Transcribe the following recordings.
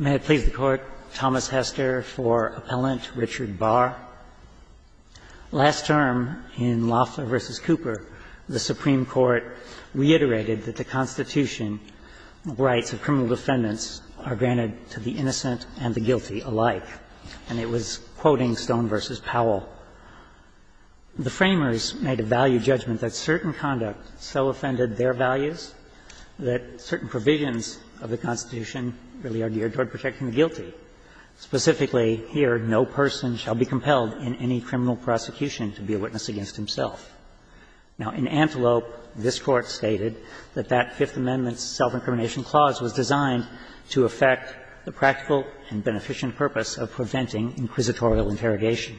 May it please the Court, Thomas Hester for Appellant Richard Bahr. Last term, in Loeffler v. Cooper, the Supreme Court reiterated that the Constitution rights of criminal defendants are granted to the innocent and the guilty alike, and it was quoting Stone v. Powell. The Framers made a value judgment that certain conduct so offended their values that certain provisions of the Constitution really are geared toward protecting the guilty. Specifically, here, no person shall be compelled in any criminal prosecution to be a witness against himself. Now, in Antelope, this Court stated that that Fifth Amendment self-incrimination clause was designed to affect the practical and beneficent purpose of preventing inquisitorial interrogation.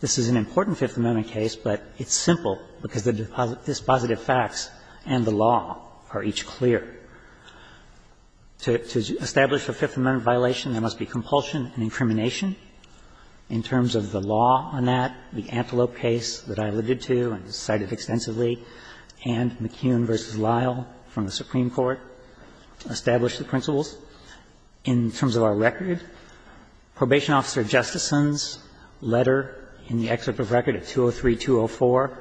This is an important Fifth Amendment case, but it's simple, because the dispositive facts and the law are each clear. To establish a Fifth Amendment violation, there must be compulsion and incrimination. In terms of the law on that, the Antelope case that I alluded to and cited extensively and McKeown v. Lyle from the Supreme Court established the principles. In terms of our record, Probation Officer Justison's letter in the excerpt of record at 203-204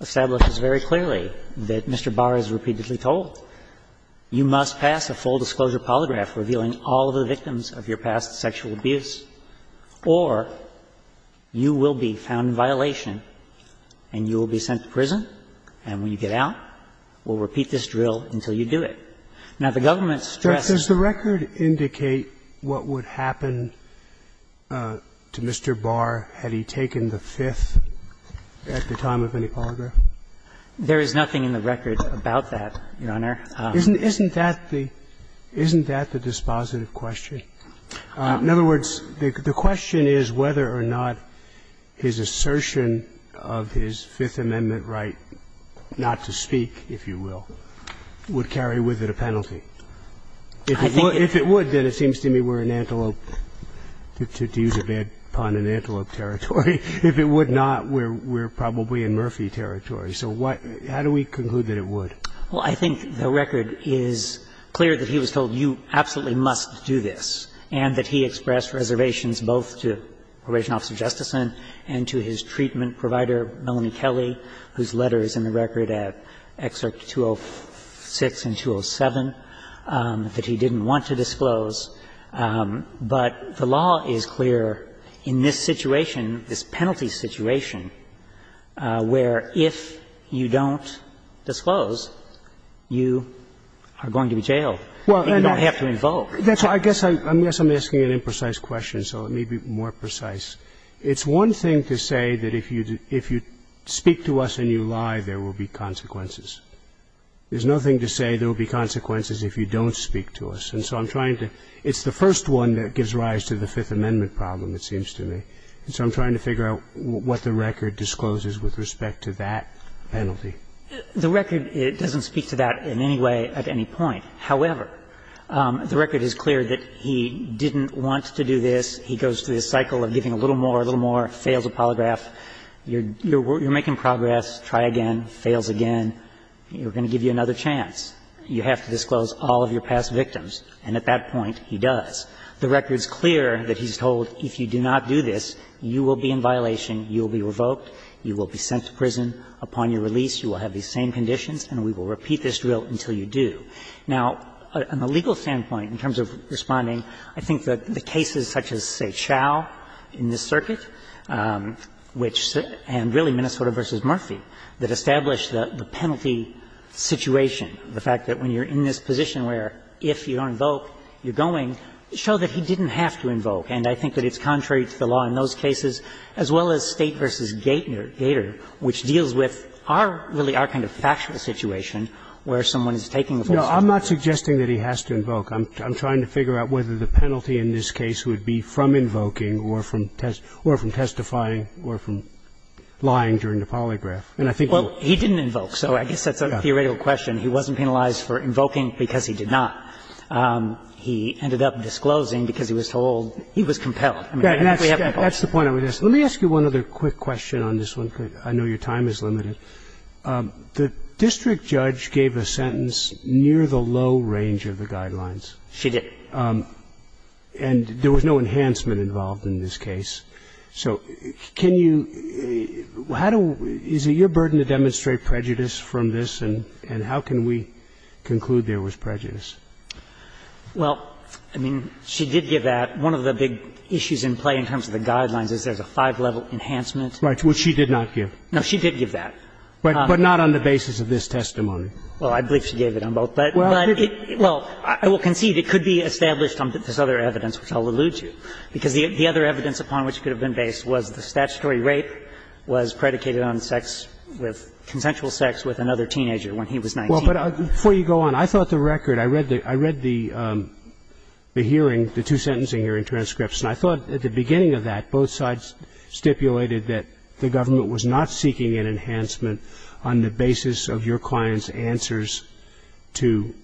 establishes very clearly that Mr. Barr has repeatedly told, you must pass a full-disclosure polygraph revealing all of the victims of your past sexual abuse, or you will be found in violation and you will be sent to prison, and when you get out, we'll repeat this drill until you do it. Now, the government stresses the record. Does the record indicate what would happen to Mr. Barr had he taken the Fifth at the time of any polygraph? There is nothing in the record about that, Your Honor. Isn't that the dispositive question? In other words, the question is whether or not his assertion of his Fifth Amendment right not to speak, if you will, would carry with it a penalty. If it would, then it seems to me we're in antelope to use a bad pun, an antelope territory. If it would not, we're probably in Murphy territory. So what do we conclude that it would? Well, I think the record is clear that he was told, you absolutely must do this, and that he expressed reservations both to Probation Officer Justison and to his treatment provider, Melanie Kelly, whose letter is in the record at Excerpt 206 and 207. That he didn't want to disclose. But the law is clear in this situation, this penalty situation, where if you don't disclose, you are going to be jailed and you don't have to invoke. That's why I guess I'm asking an imprecise question, so let me be more precise. It's one thing to say that if you speak to us and you lie, there will be consequences. There's nothing to say there will be consequences if you don't speak to us. And so I'm trying to – it's the first one that gives rise to the Fifth Amendment problem, it seems to me. And so I'm trying to figure out what the record discloses with respect to that penalty. The record doesn't speak to that in any way at any point. However, the record is clear that he didn't want to do this. He goes through this cycle of giving a little more, a little more, fails a polygraph. You're making progress. Try again. Fails again. We're going to give you another chance. You have to disclose all of your past victims. And at that point, he does. The record's clear that he's told if you do not do this, you will be in violation, you will be revoked, you will be sent to prison. Upon your release, you will have these same conditions, and we will repeat this drill until you do. Now, on the legal standpoint, in terms of responding, I think that the cases such as, say, Chau in this circuit, which – and really Minnesota v. Murphy, that established the penalty situation, the fact that when you're in this position where if you don't invoke, you're going, show that he didn't have to invoke. And I think that it's contrary to the law in those cases, as well as State v. Gater, which deals with our – really our kind of factual situation where someone is taking the force of the law. No, I'm not suggesting that he has to invoke. I'm trying to figure out whether the penalty in this case would be from invoking or from testifying or from lying during the polygraph. And I think we'll – Well, he didn't invoke, so I guess that's a theoretical question. He wasn't penalized for invoking because he did not. He ended up disclosing because he was told he was compelled. I mean, we haven't invoked. That's the point I would ask. Let me ask you one other quick question on this one, because I know your time is limited. The district judge gave a sentence near the low range of the guidelines. She did. And there was no enhancement involved in this case. So can you – how do – is it your burden to demonstrate prejudice from this? And how can we conclude there was prejudice? Well, I mean, she did give that. One of the big issues in play in terms of the guidelines is there's a five-level enhancement. Right. Which she did not give. No, she did give that. But not on the basis of this testimony. Well, I believe she gave it on both. But it – well, I will concede it could be established on this other evidence, which I'll allude to, because the other evidence upon which it could have been based was the statutory rape was predicated on sex with – consensual sex with another teenager when he was 19. Well, but before you go on, I thought the record – I read the hearing, the two-sentencing hearing transcripts, and I thought at the beginning of that, both sides stipulated that the government was not seeking an enhancement on the basis of your client's answers to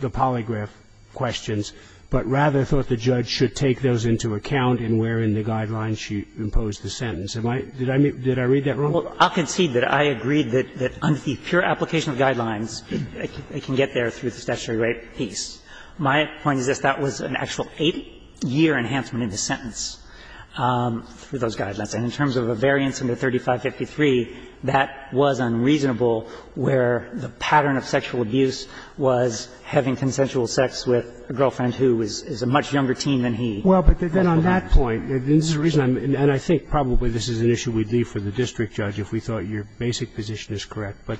the polygraph questions, but rather thought the judge should take those into account in where in the guidelines she imposed the sentence. Am I – did I read that wrong? Well, I'll concede that I agreed that under the pure application of guidelines, it can get there through the statutory rape piece. My point is this. That was an actual eight-year enhancement in the sentence for those guidelines. And in terms of a variance under 3553, that was unreasonable where the pattern of sexual abuse was having consensual sex with a girlfriend who is a much younger teen than he. Well, but then on that point, and this is the reason I'm – and I think probably this is an issue we'd leave for the district judge if we thought your basic position is correct, but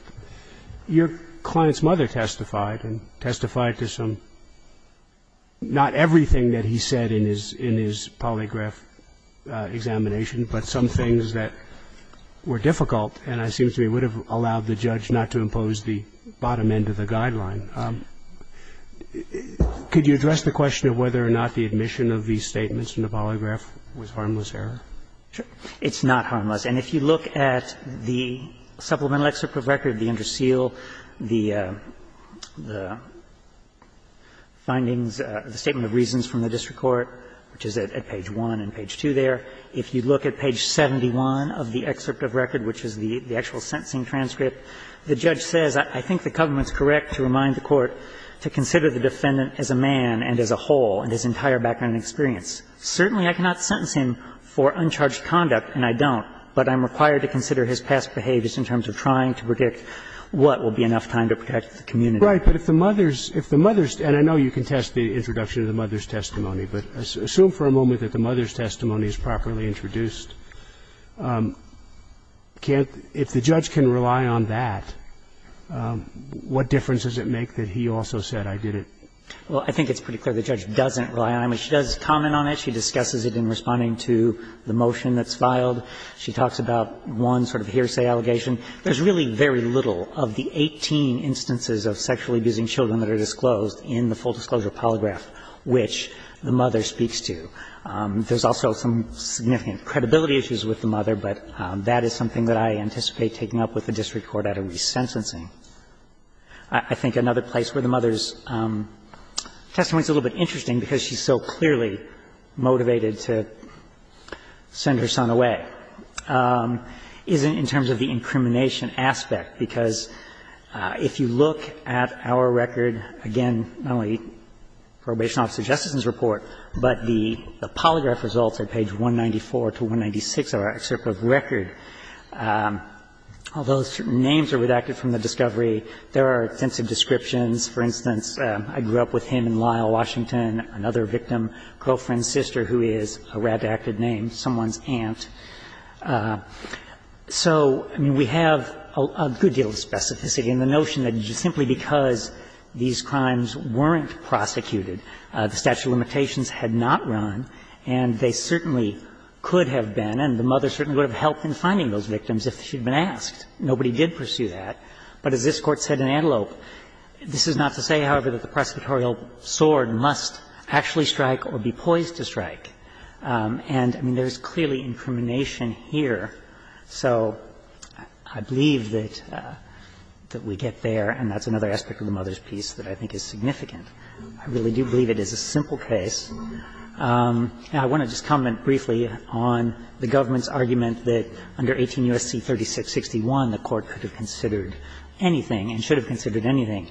your client's mother testified, and testified to some – not everything that he said in his – in his polygraph examination, but some things that were difficult and, it seems to me, would have allowed the judge not to impose the bias that he had to the bottom end of the guideline. Could you address the question of whether or not the admission of these statements in the polygraph was harmless error? It's not harmless. And if you look at the supplemental excerpt of record, the interseal, the findings – the statement of reasons from the district court, which is at page 1 and page 2 there. If you look at page 71 of the excerpt of record, which is the actual sentencing transcript, the judge says, I think the government's correct to remind the court to consider the defendant as a man and as a whole in his entire background experience. Certainly, I cannot sentence him for uncharged conduct, and I don't, but I'm required to consider his past behaviors in terms of trying to predict what will be enough time to protect the community. Right. But if the mother's – if the mother's – and I know you can test the introduction of the mother's testimony, but assume for a moment that the mother's testimony is properly introduced. Can't – if the judge can rely on that, what difference does it make that he also said, I did it? Well, I think it's pretty clear the judge doesn't rely on it. I mean, she does comment on it. She discusses it in responding to the motion that's filed. She talks about one sort of hearsay allegation. There's really very little of the 18 instances of sexually abusing children that are disclosed in the full disclosure polygraph which the mother speaks to. There's also some significant credibility issues with the mother, but that is something that I anticipate taking up with the district court at a resentencing. I think another place where the mother's testimony is a little bit interesting because she's so clearly motivated to send her son away is in terms of the incrimination aspect, because if you look at our record, again, not only probation officer and justice's report, but the polygraph results at page 194 to 196 of our excerpt of record, although certain names are redacted from the discovery, there are extensive descriptions. For instance, I grew up with him in Lyle, Washington, another victim, girlfriend, sister who is a redacted name, someone's aunt. So, I mean, we have a good deal of specificity in the notion that simply because these crimes weren't prosecuted, the statute of limitations had not run, and they certainly could have been, and the mother certainly would have helped in finding those victims if she'd been asked. Nobody did pursue that. But as this Court said in Antelope, this is not to say, however, that the prosecutorial sword must actually strike or be poised to strike. And, I mean, there's clearly incrimination here. So I believe that we get there, and that's another aspect of the mother's piece that I think is significant. I really do believe it is a simple case. I want to just comment briefly on the government's argument that under 18 U.S.C. 3661, the Court could have considered anything and should have considered anything.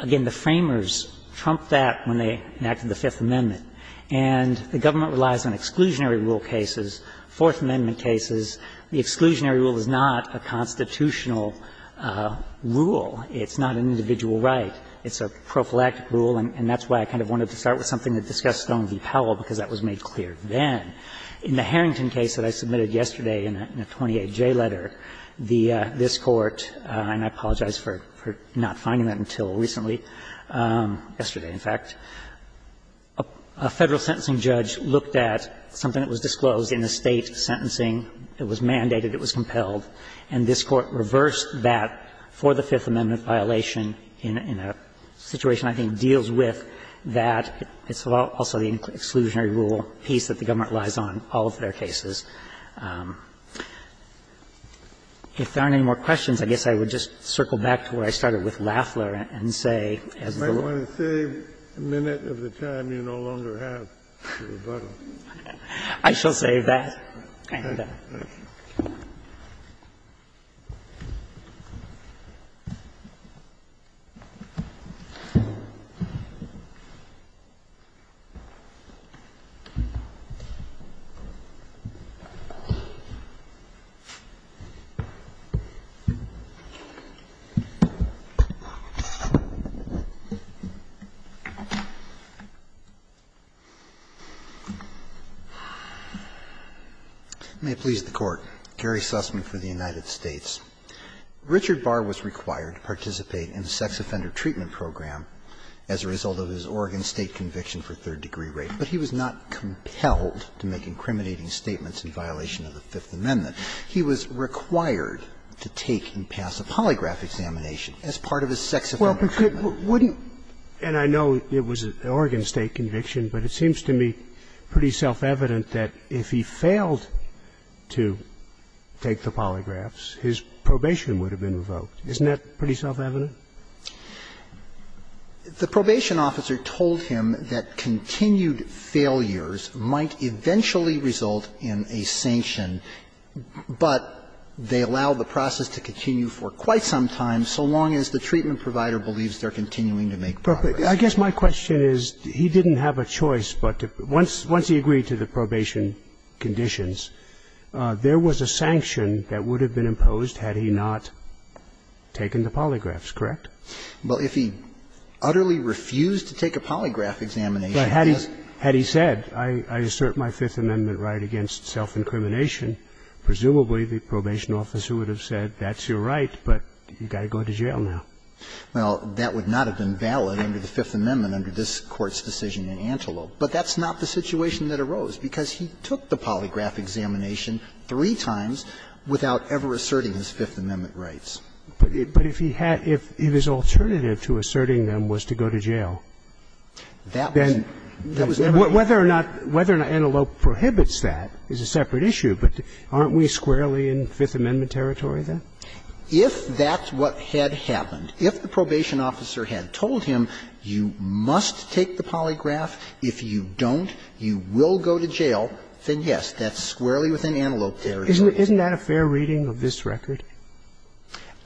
Again, the Framers trumped that when they enacted the Fifth Amendment. And the government relies on exclusionary rule cases, Fourth Amendment cases, the exclusionary rule is not a constitutional rule. It's not an individual right. It's a prophylactic rule, and that's why I kind of wanted to start with something that discussed Stone v. Powell, because that was made clear then. In the Harrington case that I submitted yesterday in a 28J letter, this Court, and I apologize for not finding that until recently, yesterday, in fact, a Federal sentencing judge looked at something that was disclosed in a State sentencing hearing, it was mandated, it was compelled, and this Court reversed that for the Fifth Amendment violation in a situation I think deals with that. It's also the exclusionary rule piece that the government relies on in all of their cases. If there aren't any more questions, I guess I would just circle back to where I started with Lafler and say as the Lord's. Kennedy, I want to save a minute of the time you no longer have for rebuttal. I shall save that. May it please the Court. Gary Sussman for the United States. Richard Barr was required to participate in a sex offender treatment program as a result of his Oregon State conviction for third-degree rape, but he was not compelled to make incriminating statements in violation of the Fifth Amendment. He was required to take and pass a polygraph examination as part of his sex offender treatment. And I know it was an Oregon State conviction, but it seems to me pretty self-evident that if he failed to take the polygraphs, his probation would have been revoked. Isn't that pretty self-evident? The probation officer told him that continued failures might eventually result in a sanction, but they allow the process to continue for quite some time so long as the treatment provider believes they're continuing to make progress. I guess my question is, he didn't have a choice, but once he agreed to the probation conditions, there was a sanction that would have been imposed had he not taken the polygraphs, correct? Well, if he utterly refused to take a polygraph examination, he was going to be revoked. But had he said, I assert my Fifth Amendment right against self-incrimination, presumably the probation officer would have said, that's your right, but you've Well, that would not have been valid under the Fifth Amendment under this Court's decision in Antelope. But that's not the situation that arose, because he took the polygraph examination three times without ever asserting his Fifth Amendment rights. But if he had – if his alternative to asserting them was to go to jail, then whether or not – whether or not Antelope prohibits that is a separate issue, but aren't we squarely in Fifth Amendment territory then? If that's what had happened, if the probation officer had told him, you must take the polygraph, if you don't, you will go to jail, then, yes, that's squarely within Antelope territory. Isn't that a fair reading of this record?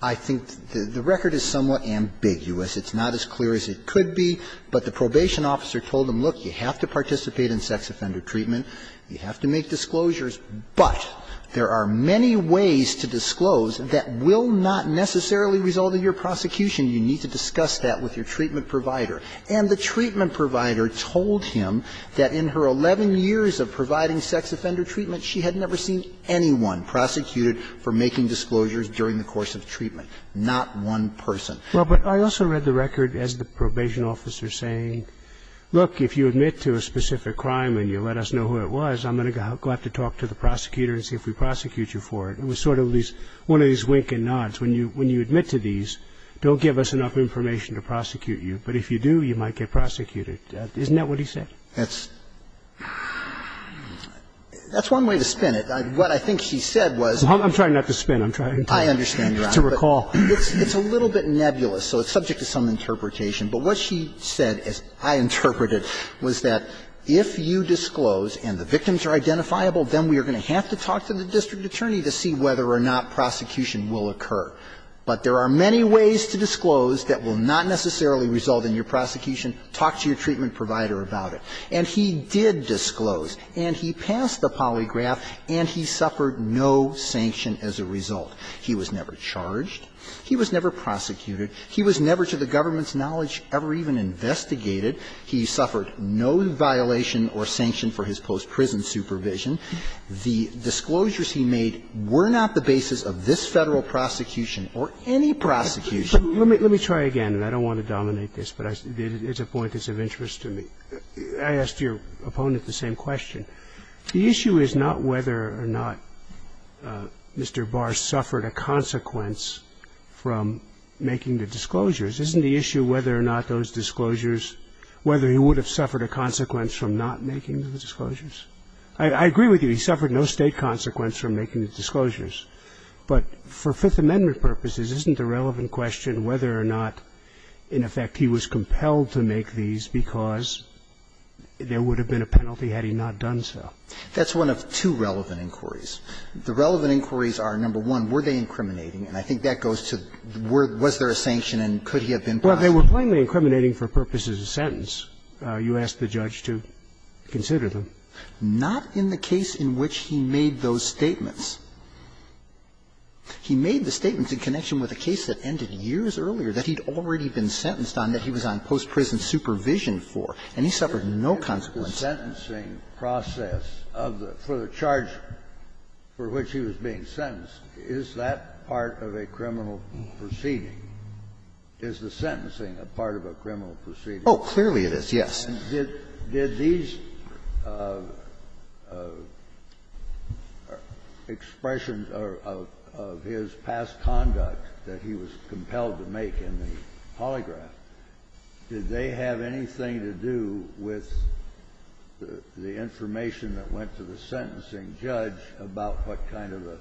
I think the record is somewhat ambiguous. It's not as clear as it could be, but the probation officer told him, look, you have to participate in sex offender treatment, you have to make disclosures, but there are many ways to disclose that will not necessarily result in your prosecution. You need to discuss that with your treatment provider. And the treatment provider told him that in her 11 years of providing sex offender treatment, she had never seen anyone prosecuted for making disclosures during the course of treatment, not one person. Well, but I also read the record as the probation officer saying, look, if you admit to a specific crime and you let us know who it was, I'm going to go out to talk to the prosecutor and see if we prosecute you for it. It was sort of these one of these wink and nods. When you admit to these, don't give us enough information to prosecute you. But if you do, you might get prosecuted. Isn't that what he said? That's one way to spin it. What I think he said was – I'm trying not to spin. I'm trying to recall. It's a little bit nebulous, so it's subject to some interpretation. But what she said, as I interpret it, was that if you disclose and the victims are identifiable, then we are going to have to talk to the district attorney to see whether or not prosecution will occur. But there are many ways to disclose that will not necessarily result in your prosecution. Talk to your treatment provider about it. And he did disclose, and he passed the polygraph, and he suffered no sanction as a result. He was never charged, he was never prosecuted, he was never, to the government's knowledge, ever even investigated. He suffered no violation or sanction for his post-prison supervision. The disclosures he made were not the basis of this Federal prosecution or any prosecution. Let me try again, and I don't want to dominate this, but it's a point that's of interest to me. I asked your opponent the same question. The issue is not whether or not Mr. Barr suffered a consequence from making the disclosures. Isn't the issue whether or not those disclosures, whether he would have suffered a consequence from not making the disclosures? I agree with you. He suffered no State consequence from making the disclosures. But for Fifth Amendment purposes, isn't the relevant question whether or not, in effect, he was compelled to make these because there would have been a penalty had he not done so? That's one of two relevant inquiries. The relevant inquiries are, number one, were they incriminating? And I think that goes to, was there a sanction and could he have been prosecuted? Well, they were plainly incriminating for purposes of sentence. You asked the judge to consider them. Not in the case in which he made those statements. He made the statements in connection with a case that ended years earlier that he'd already been sentenced on, that he was on post-prison supervision for, and he suffered no consequence. The sentencing process of the charge for which he was being sentenced, is that part of a criminal proceeding? Is the sentencing a part of a criminal proceeding? Oh, clearly it is, yes. Did these expressions of his past conduct that he was compelled to make in the polygraph, did they have anything to do with the information that went to the sentencing judge about what kind of a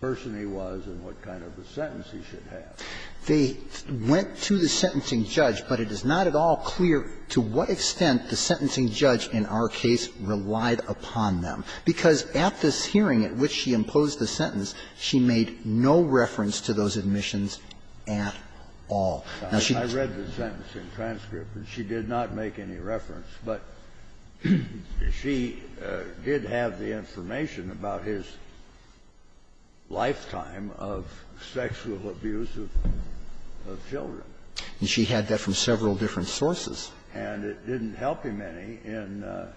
person he was and what kind of a sentence he should have? They went to the sentencing judge, but it is not at all clear to what extent the sentencing judge in our case relied upon them, because at this hearing at which she imposed the sentence, she made no reference to those admissions at all. I read the sentencing transcript, and she did not make any reference, but she did have the information about his lifetime of sexual abuse of children. And she had that from several different sources. And it didn't help him any in the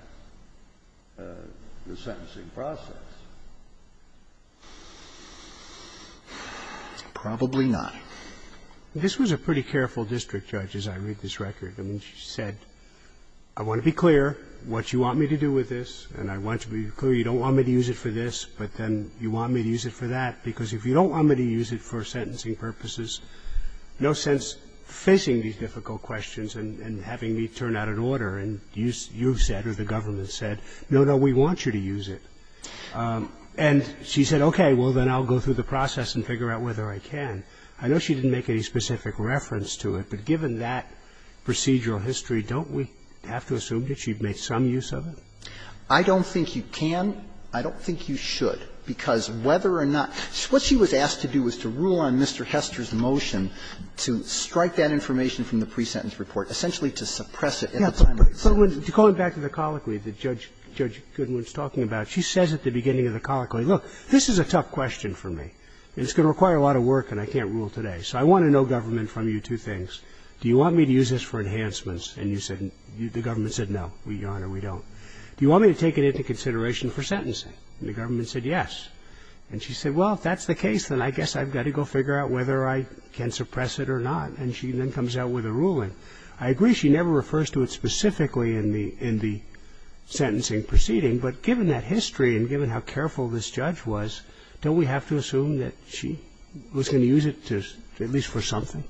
sentencing process. Probably not. This was a pretty careful district judge as I read this record. I mean, she said, I want to be clear what you want me to do with this, and I want to be clear you don't want me to use it for this, but then you want me to use it for that, because if you don't want me to use it for sentencing purposes, no sense facing these difficult questions and having me turn out an order, and you've said or the government said, no, no, we want you to use it. And she said, okay, well, then I'll go through the process and figure out whether I can. I know she didn't make any specific reference to it, but given that procedural history, don't we have to assume that she made some use of it? I don't think you can. I don't think you should, because whether or not – what she was asked to do was to rule on Mr. Hester's motion to strike that information from the pre-sentence report, essentially to suppress it at the time of the sentence. Yeah, but going back to the colloquy that Judge Goodwin's talking about, she says at the beginning of the colloquy, look, this is a tough question for me, and it's going to require a lot of work, and I can't rule today. So I want to know, government, from you two things. Do you want me to use this for enhancements? And the government said, no, Your Honor, we don't. Do you want me to take it into consideration for sentencing? And the government said, yes. And she said, well, if that's the case, then I guess I've got to go figure out whether I can suppress it or not. And she then comes out with a ruling. I agree she never refers to it specifically in the sentencing proceeding, but given that history and given how careful this judge was, don't we have to assume that she was going to use it to at least for something?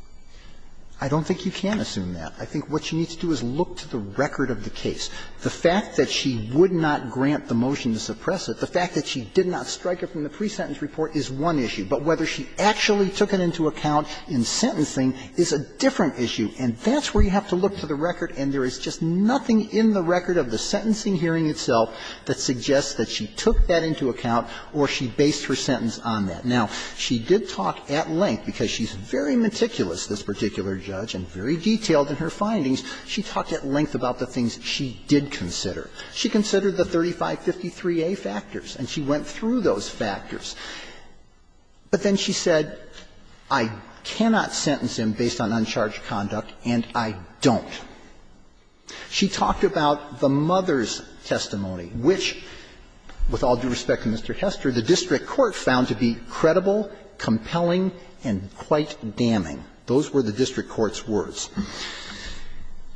I don't think you can assume that. I think what she needs to do is look to the record of the case. The fact that she would not grant the motion to suppress it, the fact that she did not strike it from the pre-sentence report, is one issue. But whether she actually took it into account in sentencing is a different issue. And that's where you have to look to the record, and there is just nothing in the record of the sentencing hearing itself that suggests that she took that into account or she based her sentence on that. Now, she did talk at length, because she's very meticulous, this particular judge, and very detailed in her findings, she talked at length about the things she did consider. She considered the 3553a factors, and she went through those factors. But then she said, I cannot sentence him based on uncharged conduct, and I don't. She talked about the mother's testimony, which, with all due respect to Mr. Hester, the district court found to be credible, compelling, and quite damning. Those were the district court's words.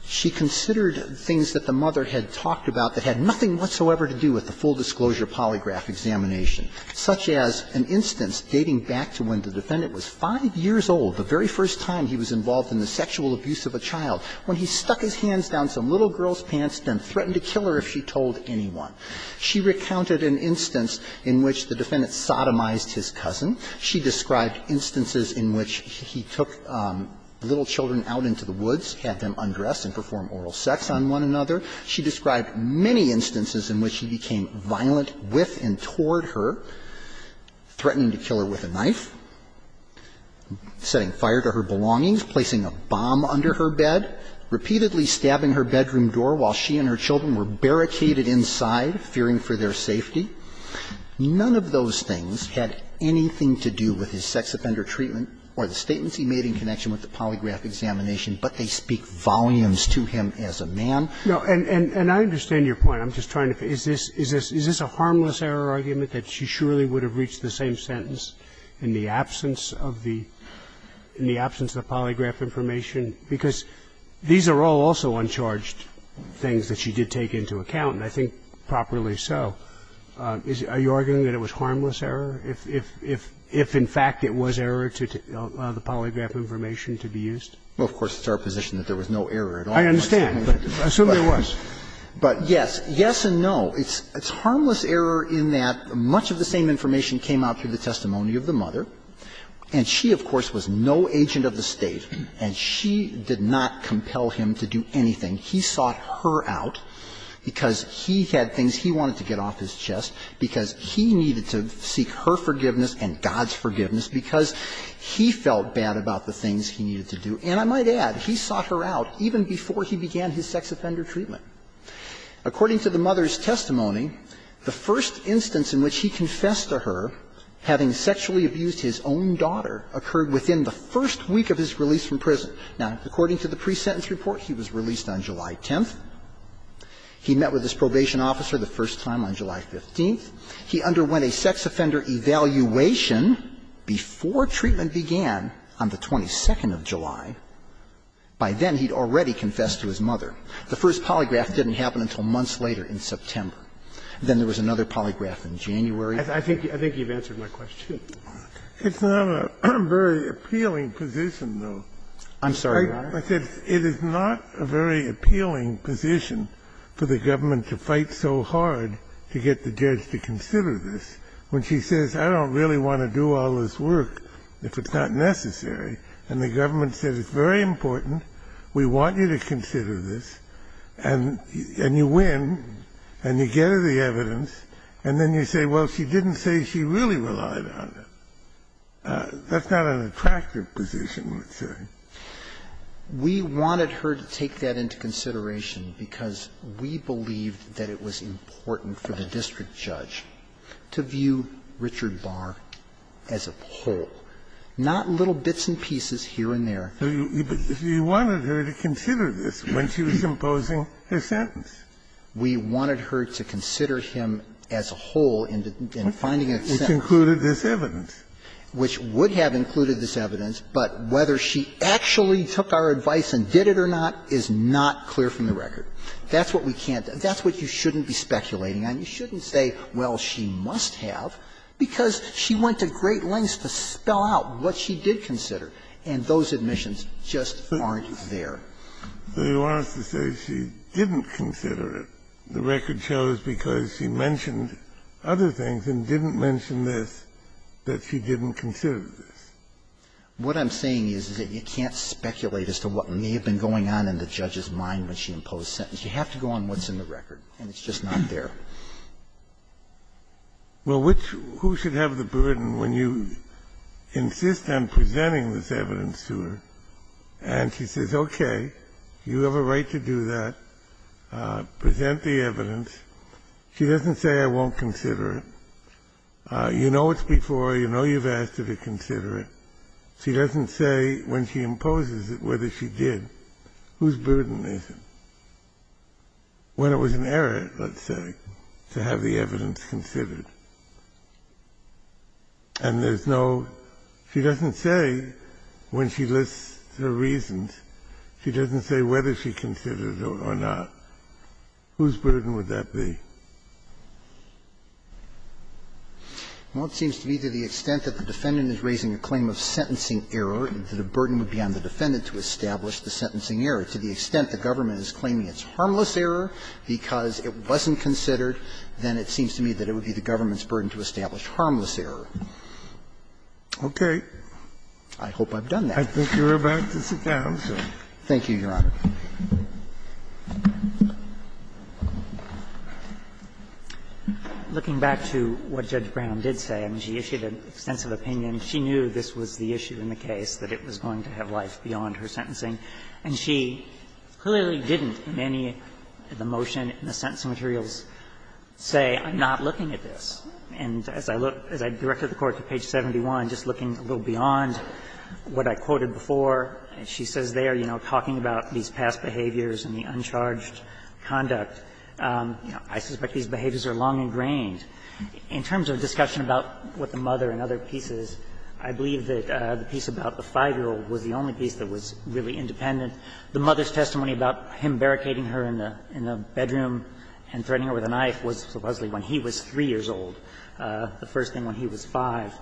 She considered things that the mother had talked about that had nothing whatsoever to do with the full disclosure polygraph examination, such as an instance dating back to when the defendant was 5 years old, the very first time he was involved in the sexual abuse of a child, when he stuck his hands down some little girl's She described instances in which he took little children out into the woods, had them undress and perform oral sex on one another. She described many instances in which he became violent with and toward her, threatening to kill her with a knife, setting fire to her belongings, placing a bomb under her bed, repeatedly stabbing her bedroom door while she and her children were barricaded inside, fearing for their safety. None of those things had anything to do with his sex offender treatment or the statements he made in connection with the polygraph examination, but they speak volumes to him as a man. No. And I understand your point. I'm just trying to figure out, is this a harmless error argument that she surely would have reached the same sentence in the absence of the – in the absence of polygraph information? Because these are all also uncharged things that she did take into account, and I think So I'm just trying to figure out, is this a harmless error argument, and if so, I don't think properly so. Are you arguing that it was harmless error if in fact it was error to allow the polygraph information to be used? Well, of course, it's our position that there was no error at all. I understand, but assume there was. But yes, yes and no. It's harmless error in that much of the same information came out through the testimony of the mother. And I think that's the reason why, in the first instance, he had things he wanted to get off his chest because he needed to seek her forgiveness and God's forgiveness because he felt bad about the things he needed to do. And I might add, he sought her out even before he began his sex offender treatment. According to the mother's testimony, the first instance in which he confessed to her having sexually abused his own daughter occurred within the first week of his release from prison. Now, according to the pre-sentence report, he was released on July 10th. He met with his probation officer the first time on July 15th. He underwent a sex offender evaluation before treatment began on the 22nd of July. By then, he'd already confessed to his mother. The first polygraph didn't happen until months later in September. Then there was another polygraph in January. I think you've answered my question. It's not a very appealing position, though. I'm sorry, Your Honor. I said it is not a very appealing position for the government to fight so hard to get the judge to consider this when she says, I don't really want to do all this work if it's not necessary, and the government says it's very important, we want you to consider this, and you win, and you get the evidence, and then you say, well, she didn't say she really relied on it. That's not an attractive position, I would say. We wanted her to take that into consideration because we believed that it was important for the district judge to view Richard Barr as a whole, not little bits and pieces here and there. But you wanted her to consider this when she was imposing her sentence. We wanted her to consider him as a whole in finding a sentence. And that included this evidence. Which would have included this evidence, but whether she actually took our advice and did it or not is not clear from the record. That's what we can't do. That's what you shouldn't be speculating on. You shouldn't say, well, she must have, because she went to great lengths to spell out what she did consider, and those admissions just aren't there. So you want us to say she didn't consider it, the record shows, because she mentioned other things and didn't mention this, that she didn't consider this. What I'm saying is, is that you can't speculate as to what may have been going on in the judge's mind when she imposed the sentence. You have to go on what's in the record, and it's just not there. Well, which who should have the burden when you insist on presenting this evidence to her, and she says, okay, you have a right to do that, present the evidence. She doesn't say I won't consider it. You know it's before, you know you've asked her to consider it. She doesn't say when she imposes it whether she did. Whose burden is it? When it was an error, let's say, to have the evidence considered. And there's no – she doesn't say when she lists her reasons. She doesn't say whether she considered it or not. Whose burden would that be? Well, it seems to me to the extent that the defendant is raising a claim of sentencing error, that a burden would be on the defendant to establish the sentencing error. To the extent the government is claiming it's harmless error because it wasn't considered, then it seems to me that it would be the government's burden to establish harmless error. Okay. I hope I've done that. I think you're about to sit down, sir. Thank you, Your Honor. Looking back to what Judge Brown did say, I mean, she issued an extensive opinion. She knew this was the issue in the case, that it was going to have life beyond her sentencing. And she clearly didn't in any of the motion in the sentencing materials say, I'm not looking at this. And as I look – as I directed the Court to page 71, just looking a little beyond what I quoted before, she says there, you know, talking about these past behaviors and the uncharged conduct, you know, I suspect these behaviors are long ingrained. In terms of discussion about what the mother and other pieces, I believe that the piece about the 5-year-old was the only piece that was really independent. The mother's testimony about him barricading her in the bedroom and threatening her with a knife was supposedly when he was 3 years old, the first thing when he was 5.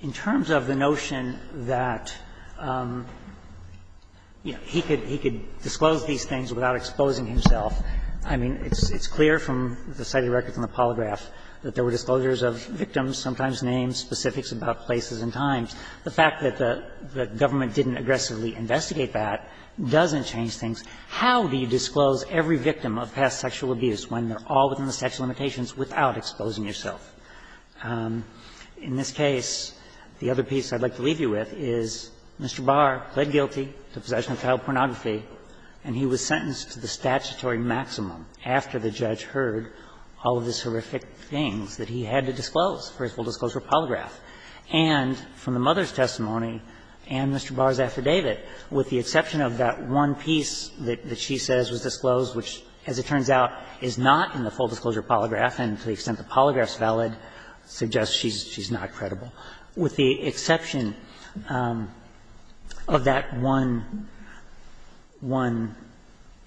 In terms of the notion that, you know, he could – he could disclose these things without exposing himself, I mean, it's clear from the cited records in the polygraph that there were disclosures of victims, sometimes names, specifics about places and times. The fact that the government didn't aggressively investigate that doesn't change things. How do you disclose every victim of past sexual abuse when they're all within the statute of limitations without exposing yourself? In this case, the other piece I'd like to leave you with is Mr. Barr pled guilty to possession of child pornography, and he was sentenced to the statutory maximum after the judge heard all of these horrific things that he had to disclose for his full disclosure polygraph. And from the mother's testimony and Mr. Barr's affidavit, with the exception of that one piece that she says was disclosed, which, as it turns out, is not in the statute, suggests she's not credible. With the exception of that one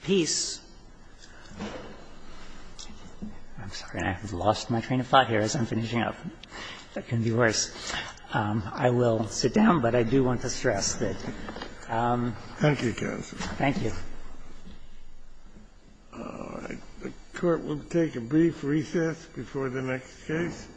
piece – I'm sorry, I have lost my train of thought here as I'm finishing up. That can be worse. I will sit down, but I do want to stress that. Thank you, counsel. Thank you. All right. The court will take a brief recess before the next case.